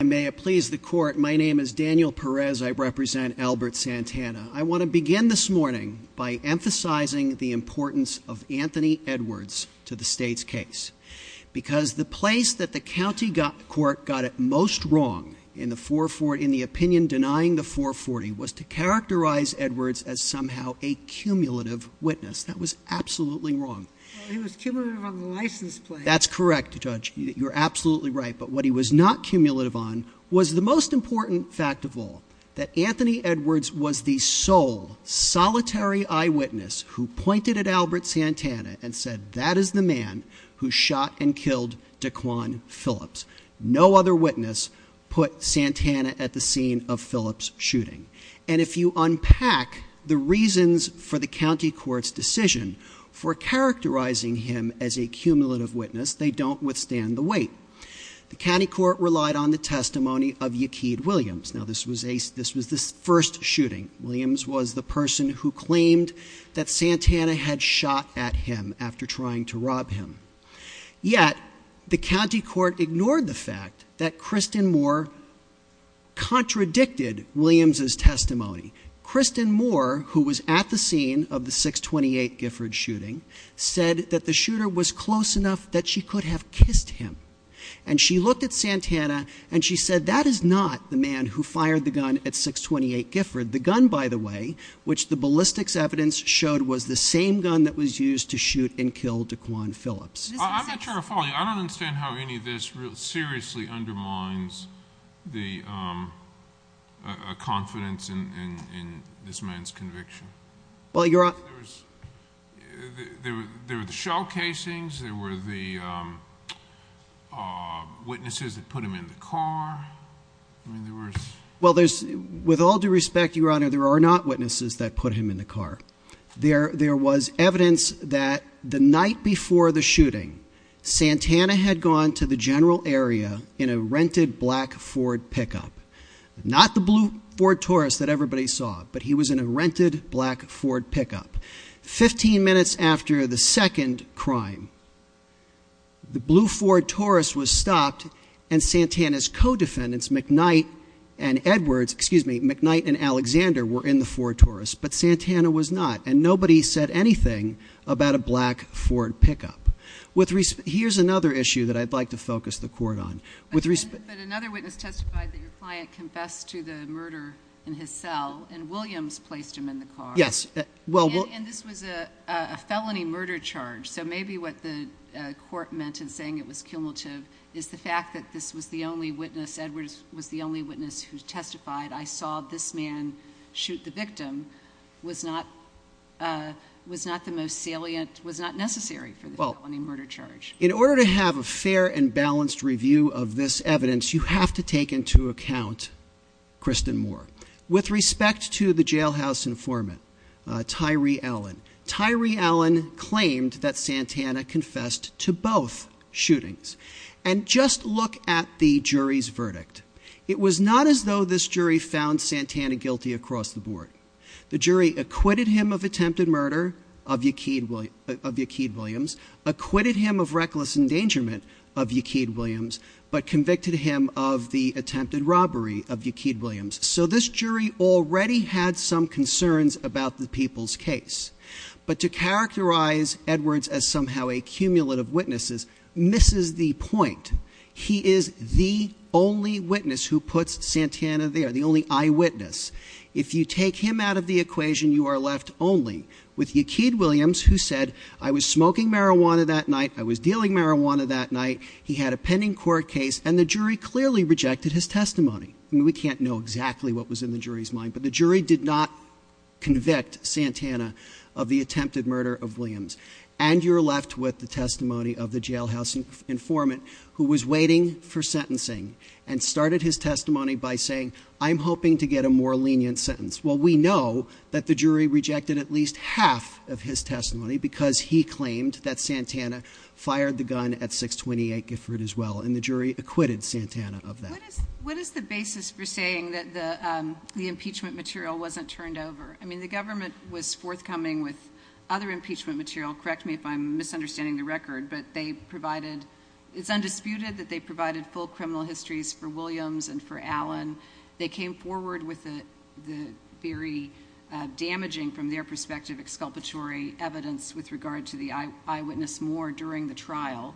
I may have pleased the court. My name is Daniel Perez. I represent Albert Santana. I want to begin this morning by emphasizing the importance of Anthony Edwards to the state's case. Because the place that the county court got it most wrong in the opinion denying the 440 was to characterize Edwards as somehow a cumulative witness. That was absolutely wrong. Well, he was cumulative on the license plate. That's correct, Judge. You're absolutely right. But what he was not cumulative on was the most important fact of all, that Anthony Edwards was the sole solitary eyewitness who pointed at Albert Santana and said, that is the man who shot and killed Daquan Phillips. No other witness put Santana at the scene of Phillips' shooting. And if you unpack the reasons for the county court's decision for characterizing him as a cumulative witness, they don't withstand the weight. The county court relied on the testimony of Yaquid Williams. Now, this was the first shooting. Williams was the person who claimed that Santana had shot at him after trying to rob him. Yet, the county court ignored the fact that Kristen Moore contradicted Williams' testimony. Kristen Moore, who was at the scene of the 628 Gifford shooting, said that the shooter was close enough that she could have kissed him. And she looked at Santana and she said, that is not the man who fired the gun at 628 Gifford. The gun, by the way, which the ballistics evidence showed, was the same gun that was used to shoot and kill Daquan Phillips. I'm not sure I follow you. I don't understand how any of this seriously undermines the confidence in this man's conviction. There were the shell casings. There were the witnesses that put him in the car. Well, with all due respect, Your Honor, there are not witnesses that put him in the car. There was evidence that the night before the shooting, Santana had gone to the general area in a rented black Ford pickup. Not the blue Ford Taurus that everybody saw, but he was in a rented black Ford pickup. Fifteen minutes after the second crime, the blue Ford Taurus was stopped and Santana's co-defendants, McKnight and Edwards, excuse me, McKnight and Alexander, were in the Ford Taurus, but Santana was not, and nobody said anything about a black Ford pickup. Here's another issue that I'd like to focus the court on. But another witness testified that your client confessed to the murder in his cell, and Williams placed him in the car. Yes. And this was a felony murder charge, so maybe what the court meant in saying it was cumulative is the fact that this was the only witness, Edwards was the only witness who testified, that I saw this man shoot the victim was not the most salient, was not necessary for the felony murder charge. In order to have a fair and balanced review of this evidence, you have to take into account Kristen Moore. With respect to the jailhouse informant, Tyree Allen, Tyree Allen claimed that Santana confessed to both shootings. But it was not as though this jury found Santana guilty across the board. The jury acquitted him of attempted murder of Yaquid Williams, acquitted him of reckless endangerment of Yaquid Williams, but convicted him of the attempted robbery of Yaquid Williams. So this jury already had some concerns about the people's case. But to characterize Edwards as somehow a cumulative witness misses the point. He is the only witness who puts Santana there, the only eyewitness. If you take him out of the equation, you are left only with Yaquid Williams who said, I was smoking marijuana that night, I was dealing marijuana that night. He had a pending court case, and the jury clearly rejected his testimony. I mean, we can't know exactly what was in the jury's mind, but the jury did not convict Santana of the attempted murder of Williams. And you're left with the testimony of the jailhouse informant, who was waiting for sentencing and started his testimony by saying, I'm hoping to get a more lenient sentence. Well, we know that the jury rejected at least half of his testimony because he claimed that Santana fired the gun at 628 Gifford as well, and the jury acquitted Santana of that. What is the basis for saying that the impeachment material wasn't turned over? I mean, the government was forthcoming with other impeachment material. Correct me if I'm misunderstanding the record, but it's undisputed that they provided full criminal histories for Williams and for Allen. They came forward with the very damaging, from their perspective, exculpatory evidence with regard to the eyewitness more during the trial.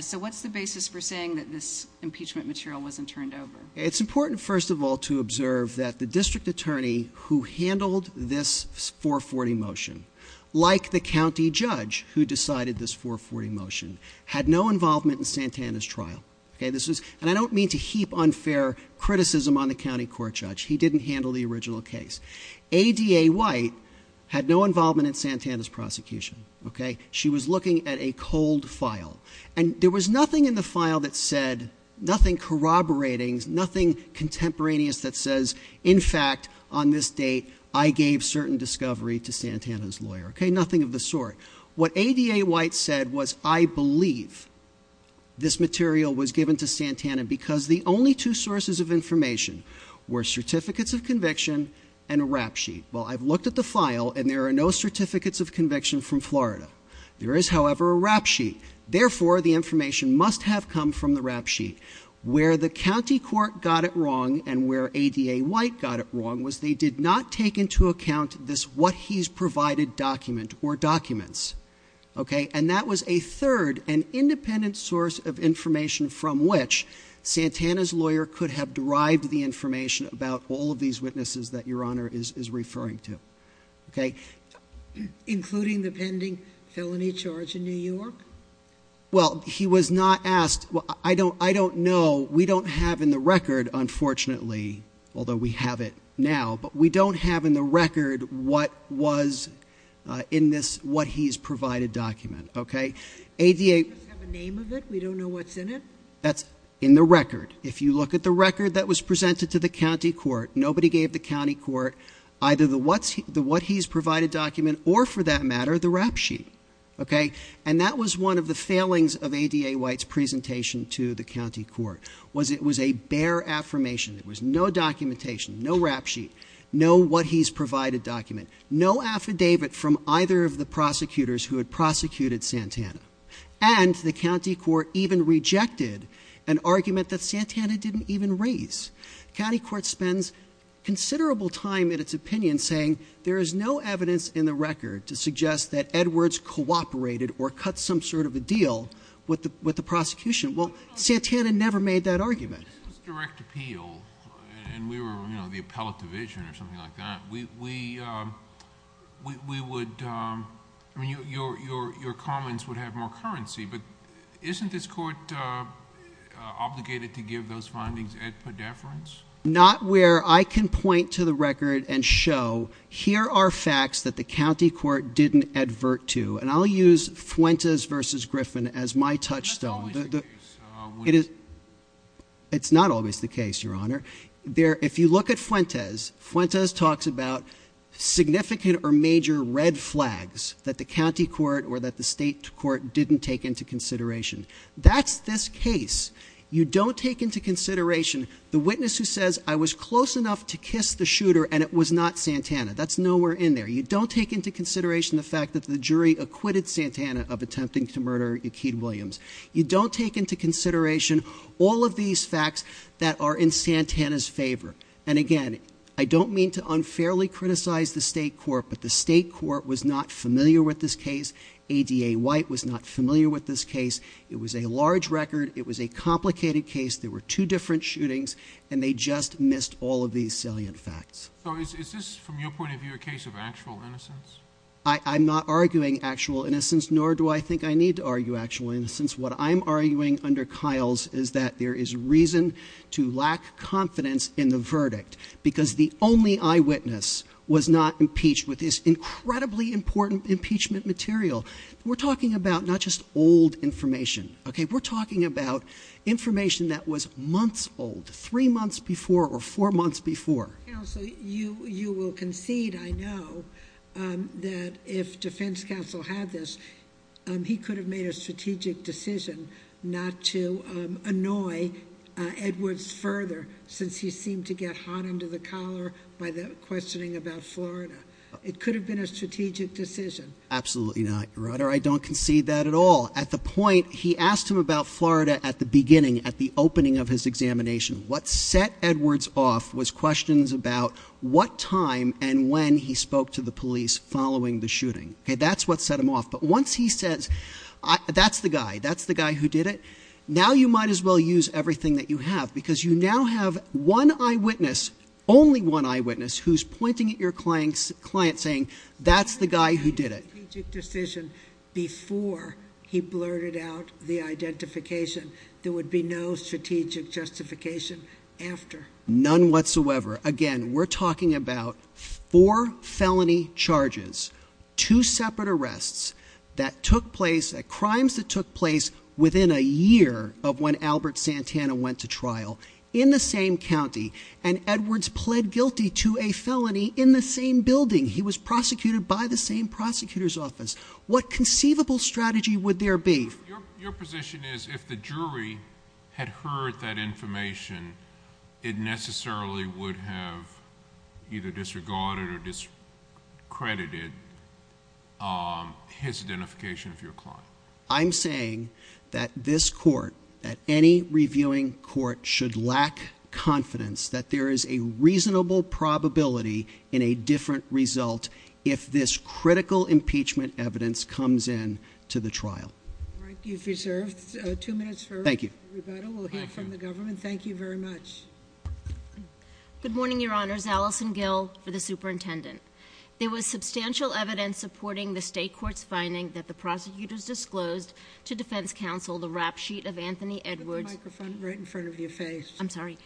So what's the basis for saying that this impeachment material wasn't turned over? It's important, first of all, to observe that the district attorney who handled this 440 motion, like the county judge who decided this 440 motion, had no involvement in Santana's trial. And I don't mean to heap unfair criticism on the county court judge. He didn't handle the original case. ADA White had no involvement in Santana's prosecution. She was looking at a cold file. And there was nothing in the file that said, nothing corroborating, nothing contemporaneous that says, in fact, on this date, I gave certain discovery to Santana's lawyer. Okay, nothing of the sort. What ADA White said was, I believe this material was given to Santana because the only two sources of information were certificates of conviction and a rap sheet. Well, I've looked at the file, and there are no certificates of conviction from Florida. There is, however, a rap sheet. Therefore, the information must have come from the rap sheet. Where the county court got it wrong, and where ADA White got it wrong, was they did not take into account this what-he's-provided document or documents. Okay, and that was a third and independent source of information from which Santana's lawyer could have derived the information about all of these witnesses that Your Honor is referring to. Okay. Including the pending felony charge in New York? Well, he was not asked. I don't know. We don't have in the record, unfortunately, although we have it now, but we don't have in the record what was in this what-he's-provided document. Okay. ADA- We don't have a name of it? We don't know what's in it? That's in the record. If you look at the record that was presented to the county court, nobody gave the county court either the what-he's-provided document or, for that matter, the rap sheet. Okay. And that was one of the failings of ADA White's presentation to the county court, was it was a bare affirmation. There was no documentation, no rap sheet, no what-he's-provided document, no affidavit from either of the prosecutors who had prosecuted Santana. And the county court even rejected an argument that Santana didn't even raise. The county court spends considerable time in its opinion saying there is no evidence in the record to suggest that Edwards cooperated or cut some sort of a deal with the prosecution. Well, Santana never made that argument. It was direct appeal, and we were, you know, the appellate division or something like that. We would, I mean, your comments would have more currency, but isn't this court obligated to give those findings at predeference? Not where I can point to the record and show here are facts that the county court didn't advert to, and I'll use Fuentes v. Griffin as my touchstone. That's always the case. It's not always the case, Your Honor. If you look at Fuentes, Fuentes talks about significant or major red flags that the county court or that the state court didn't take into consideration. That's this case. You don't take into consideration the witness who says, I was close enough to kiss the shooter and it was not Santana. That's nowhere in there. You don't take into consideration the fact that the jury acquitted Santana of attempting to murder Akeed Williams. You don't take into consideration all of these facts that are in Santana's favor. And again, I don't mean to unfairly criticize the state court, but the state court was not familiar with this case. ADA White was not familiar with this case. It was a large record. It was a complicated case. There were two different shootings, and they just missed all of these salient facts. So is this, from your point of view, a case of actual innocence? I'm not arguing actual innocence, nor do I think I need to argue actual innocence. What I'm arguing under Kyle's is that there is reason to lack confidence in the verdict, because the only eyewitness was not impeached with this incredibly important impeachment material. We're talking about not just old information, okay? We're talking about information that was months old, three months before or four months before. Counsel, you will concede, I know, that if defense counsel had this, he could have made a strategic decision not to annoy Edwards further, since he seemed to get hot under the collar by the questioning about Florida. It could have been a strategic decision. Absolutely not, Your Honor. I don't concede that at all. At the point, he asked him about Florida at the beginning, at the opening of his examination. What set Edwards off was questions about what time and when he spoke to the police following the shooting. Okay, that's what set him off. But once he says, that's the guy, that's the guy who did it, now you might as well use everything that you have, because you now have one eyewitness, only one eyewitness, who's pointing at your client saying, that's the guy who did it. He made a strategic decision before he blurted out the identification. There would be no strategic justification after. None whatsoever. Again, we're talking about four felony charges, two separate arrests, that took place, crimes that took place within a year of when Albert Santana went to trial, in the same county, and Edwards pled guilty to a felony in the same building. He was prosecuted by the same prosecutor's office. What conceivable strategy would there be? Your position is, if the jury had heard that information, it necessarily would have either disregarded or discredited his identification of your client. I'm saying that this court, that any reviewing court, should lack confidence that there is a reasonable probability in a different result if this critical impeachment evidence comes in to the trial. All right, you've reserved two minutes for rebuttal. Thank you. We'll hear from the government. Thank you very much. Good morning, Your Honors. Allison Gill for the superintendent. There was substantial evidence supporting the state court's finding that the prosecutors disclosed to defense counsel the rap sheet of Anthony Edwards. Put the microphone right in front of your face. I'm sorry.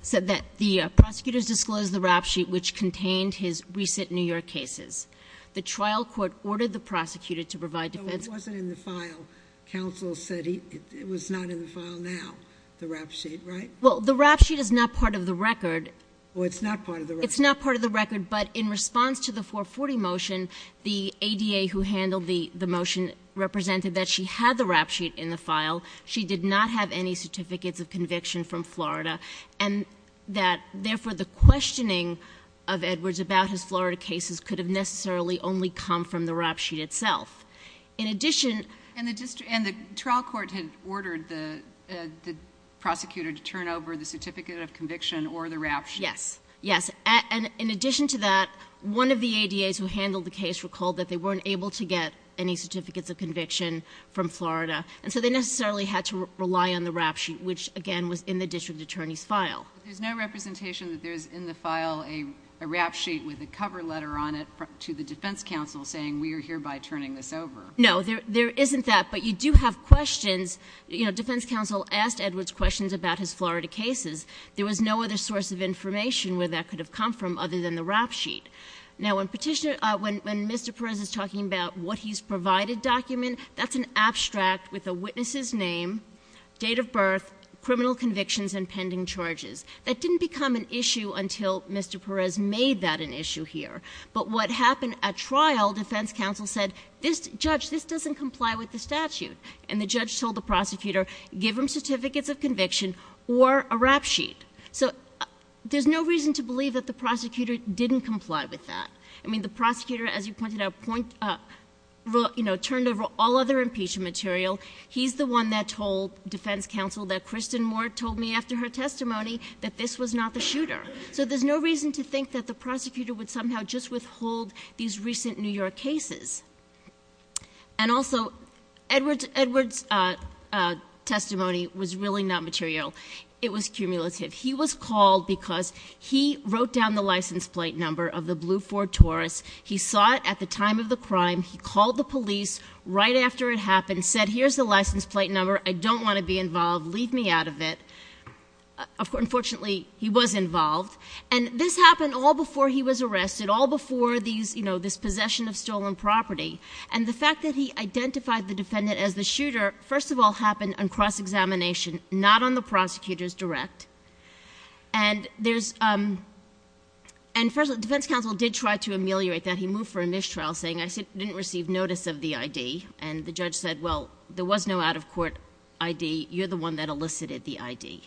Said that the prosecutors disclosed the rap sheet which contained his recent New York cases. The trial court ordered the prosecutor to provide defense- So it wasn't in the file. Counsel said it was not in the file now, the rap sheet, right? Well, the rap sheet is not part of the record. Well, it's not part of the record. It's not part of the record, but in response to the 440 motion, the ADA who handled the motion represented that she had the rap sheet in the file. She did not have any certificates of conviction from Florida, and that therefore the questioning of Edwards about his Florida cases could have necessarily only come from the rap sheet itself. In addition- And the trial court had ordered the prosecutor to turn over the certificate of conviction or the rap sheet. Yes, yes. And in addition to that, one of the ADAs who handled the case recalled that they weren't able to get any certificates of conviction from Florida, and so they necessarily had to rely on the rap sheet which, again, was in the district attorney's file. There's no representation that there's in the file a rap sheet with a cover letter on it to the defense counsel saying we are hereby turning this over. No, there isn't that, but you do have questions. You know, defense counsel asked Edwards questions about his Florida cases. There was no other source of information where that could have come from other than the rap sheet. Now, when Mr. Perez is talking about what he's provided document, that's an abstract with a witness's name, date of birth, criminal convictions, and pending charges. That didn't become an issue until Mr. Perez made that an issue here. But what happened at trial, defense counsel said, this judge, this doesn't comply with the statute. And the judge told the prosecutor, give him certificates of conviction or a rap sheet. So there's no reason to believe that the prosecutor didn't comply with that. I mean, the prosecutor, as you pointed out, turned over all other impeachment material. He's the one that told defense counsel that Kristen Moore told me after her testimony that this was not the shooter. So there's no reason to think that the prosecutor would somehow just withhold these recent New York cases. And also, Edwards' testimony was really not material. It was cumulative. He was called because he wrote down the license plate number of the blue Ford Taurus. He saw it at the time of the crime. He called the police right after it happened, said, here's the license plate number. I don't want to be involved. Leave me out of it. Unfortunately, he was involved. And this happened all before he was arrested, all before this possession of stolen property. And the fact that he identified the defendant as the shooter, first of all, happened on cross-examination, not on the prosecutor's direct. And first, defense counsel did try to ameliorate that. He moved for a mistrial, saying, I didn't receive notice of the ID. And the judge said, well, there was no out-of-court ID. You're the one that elicited the ID.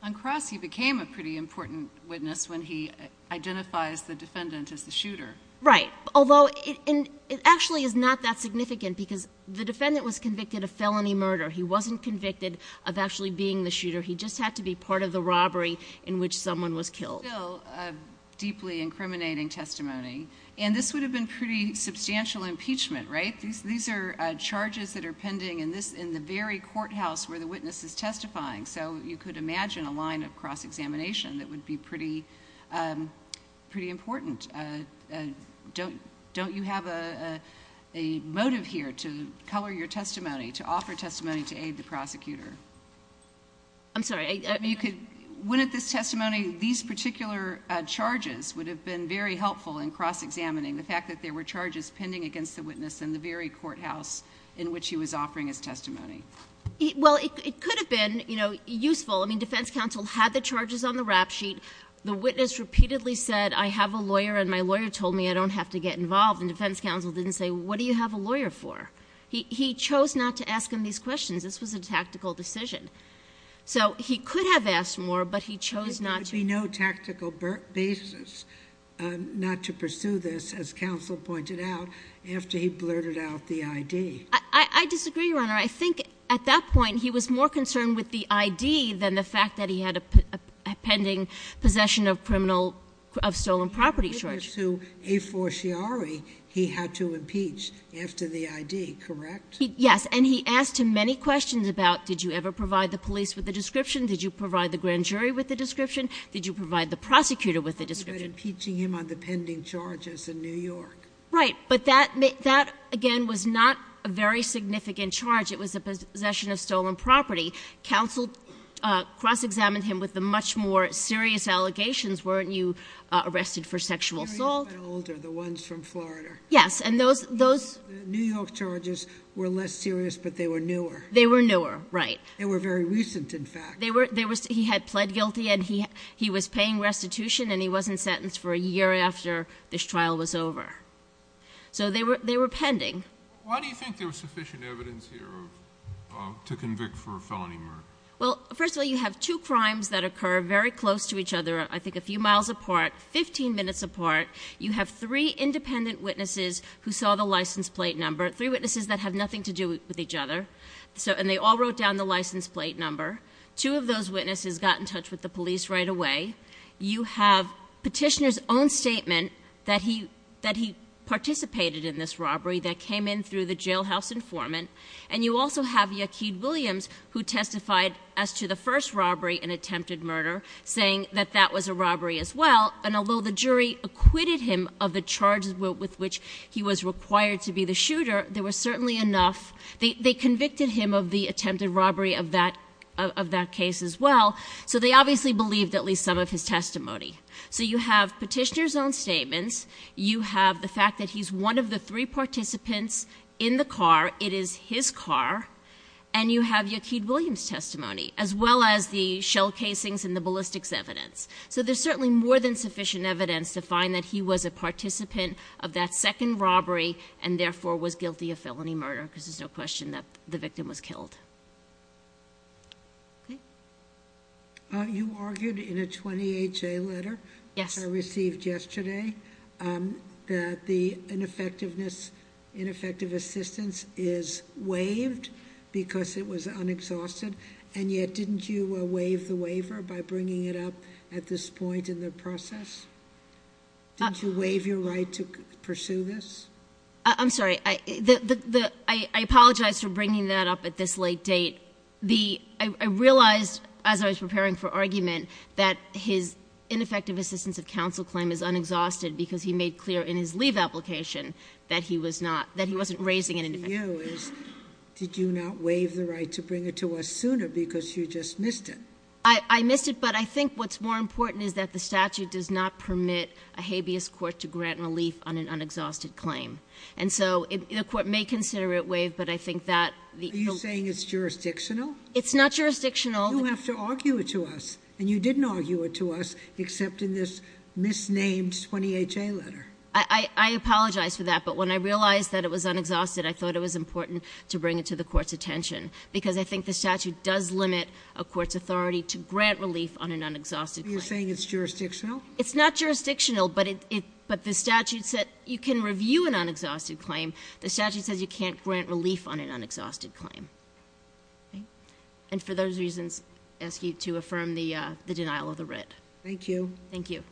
On cross, he became a pretty important witness when he identifies the defendant as the shooter. Right. Although it actually is not that significant because the defendant was convicted of felony murder. He wasn't convicted of actually being the shooter. He just had to be part of the robbery in which someone was killed. Still a deeply incriminating testimony. And this would have been pretty substantial impeachment, right? These are charges that are pending in the very courthouse where the witness is testifying. So you could imagine a line of cross-examination that would be pretty important. Don't you have a motive here to color your testimony, to offer testimony to aid the prosecutor? I'm sorry. When at this testimony, these particular charges would have been very helpful in cross-examining the fact that there were charges pending against the witness in the very courthouse in which he was offering his testimony. Well, it could have been useful. I mean, defense counsel had the charges on the rap sheet. The witness repeatedly said, I have a lawyer and my lawyer told me I don't have to get involved. And defense counsel didn't say, what do you have a lawyer for? He chose not to ask him these questions. This was a tactical decision. So he could have asked more, but he chose not to. There would be no tactical basis not to pursue this, as counsel pointed out, after he blurted out the ID. I disagree, Your Honor. I think at that point, he was more concerned with the ID than the fact that he had a pending possession of criminal, of stolen property charges. To a forciari, he had to impeach after the ID, correct? Yes, and he asked him many questions about, did you ever provide the police with a description? Did you provide the grand jury with a description? Did you provide the prosecutor with a description? What about impeaching him on the pending charges in New York? Right, but that, again, was not a very significant charge. It was a possession of stolen property. Counsel cross-examined him with the much more serious allegations. Weren't you arrested for sexual assault? The ones from Florida. Yes, and those- New York charges were less serious, but they were newer. They were newer, right. They were very recent, in fact. He had pled guilty, and he was paying restitution, and he wasn't sentenced for a year after this trial was over. So they were pending. Why do you think there was sufficient evidence here to convict for a felony murder? Well, first of all, you have two crimes that occur very close to each other, I think a few miles apart, 15 minutes apart. You have three independent witnesses who saw the license plate number, three witnesses that have nothing to do with each other, and they all wrote down the license plate number. Two of those witnesses got in touch with the police right away. You have Petitioner's own statement that he participated in this robbery that came in through the jailhouse informant. And you also have Yaquid Williams, who testified as to the first robbery, an attempted murder, saying that that was a robbery as well. And although the jury acquitted him of the charges with which he was required to be the shooter, there was certainly enough. They convicted him of the attempted robbery of that case as well. So they obviously believed at least some of his testimony. So you have Petitioner's own statements. You have the fact that he's one of the three participants in the car. It is his car. And you have Yaquid Williams' testimony, as well as the shell casings and the ballistics evidence. So there's certainly more than sufficient evidence to find that he was a participant of that second robbery and therefore was guilty of felony murder, because there's no question that the victim was killed. Okay? You argued in a 28-J letter- Yes. I received yesterday that the ineffective assistance is waived because it was unexhausted. And yet, didn't you waive the waiver by bringing it up at this point in the process? Did you waive your right to pursue this? I'm sorry. I apologize for bringing that up at this late date. I realized as I was preparing for argument that his ineffective assistance of counsel claim is unexhausted, because he made clear in his leave application that he wasn't raising it indefinitely. My question to you is, did you not waive the right to bring it to us sooner, because you just missed it? I missed it, but I think what's more important is that the statute does not permit a habeas court to grant relief on an unexhausted claim. And so the court may consider it waived, but I think that- Are you saying it's jurisdictional? It's not jurisdictional. You have to argue it to us, and you didn't argue it to us, except in this misnamed 28-J letter. I apologize for that, but when I realized that it was unexhausted, I thought it was important to bring it to the court's attention, because I think the statute does limit a court's authority to grant relief on an unexhausted claim. Are you saying it's jurisdictional? It's not jurisdictional, but the statute said you can review an unexhausted claim. The statute says you can't grant relief on an unexhausted claim. And for those reasons, I ask you to affirm the denial of the writ. Thank you. Thank you.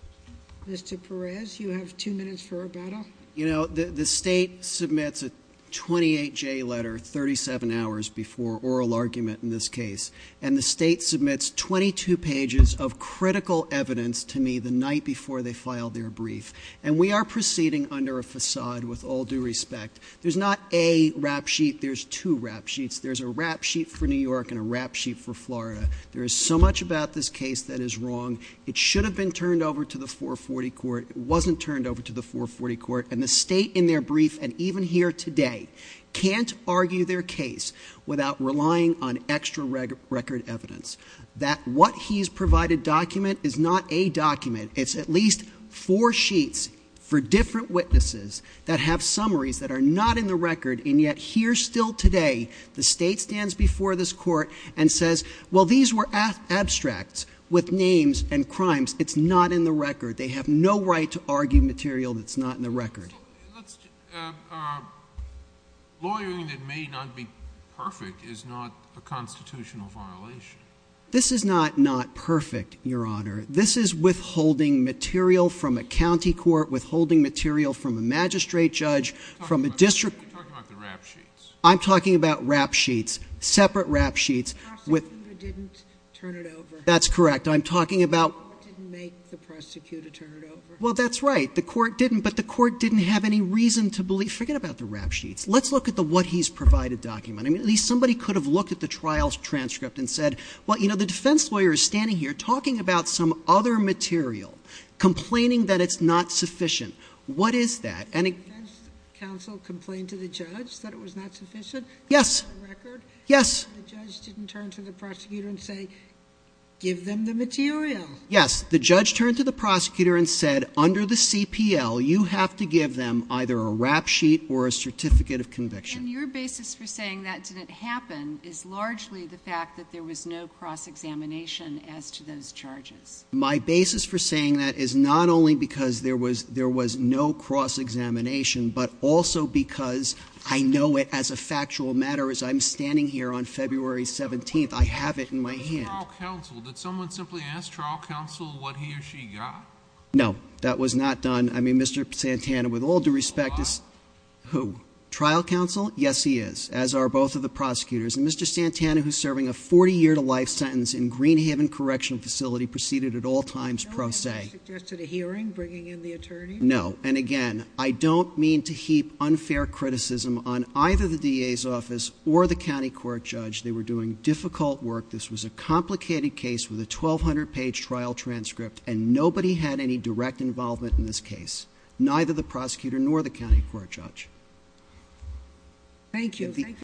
Mr. Perez, you have two minutes for rebuttal. The state submits a 28-J letter 37 hours before oral argument in this case, and the state submits 22 pages of critical evidence to me the night before they filed their brief. And we are proceeding under a facade with all due respect. There's not a rap sheet. There's two rap sheets. There's a rap sheet for New York and a rap sheet for Florida. There is so much about this case that is wrong. It should have been turned over to the 440 court. It wasn't turned over to the 440 court. And the state, in their brief, and even here today, can't argue their case without relying on extra record evidence. That what he's provided document is not a document. It's at least four sheets for different witnesses that have summaries that are not in the record, and yet here still today, the state stands before this court and says, well, these were abstracts with names and crimes. It's not in the record. They have no right to argue material that's not in the record. Lawyering that may not be perfect is not a constitutional violation. This is not not perfect, Your Honor. This is withholding material from a county court, withholding material from a magistrate judge, from a district. You're talking about the rap sheets. I'm talking about rap sheets, separate rap sheets. The prosecutor didn't turn it over. That's correct. I'm talking about. The court didn't make the prosecutor turn it over. Well, that's right. The court didn't, but the court didn't have any reason to believe. Forget about the rap sheets. Let's look at the what he's provided document. I mean, at least somebody could have looked at the trial's transcript and said, well, you know, the defense lawyer is standing here talking about some other material, complaining that it's not sufficient. What is that? Counsel complained to the judge that it was not sufficient. Yes. Yes. The judge didn't turn to the prosecutor and say, give them the material. Yes. The judge turned to the prosecutor and said, under the CPL, you have to give them either a rap sheet or a certificate of conviction. And your basis for saying that didn't happen is largely the fact that there was no cross-examination as to those charges. My basis for saying that is not only because there was no cross-examination, but also because I know it as a factual matter. As I'm standing here on February 17th, I have it in my hand. What is trial counsel? Did someone simply ask trial counsel what he or she got? No. That was not done. I mean, Mr. Santana, with all due respect. Who? Trial counsel? Yes, he is, as are both of the prosecutors. And Mr. Santana, who's serving a 40-year-to-life sentence in Greenhaven Correctional Facility, proceeded at all times pro se. No one suggested a hearing, bringing in the attorney? No. And again, I don't mean to heap unfair criticism on either the DA's office or the county court judge. They were doing difficult work. This was a complicated case with a 1,200-page trial transcript, and nobody had any direct involvement in this case, neither the prosecutor nor the county court judge. Thank you.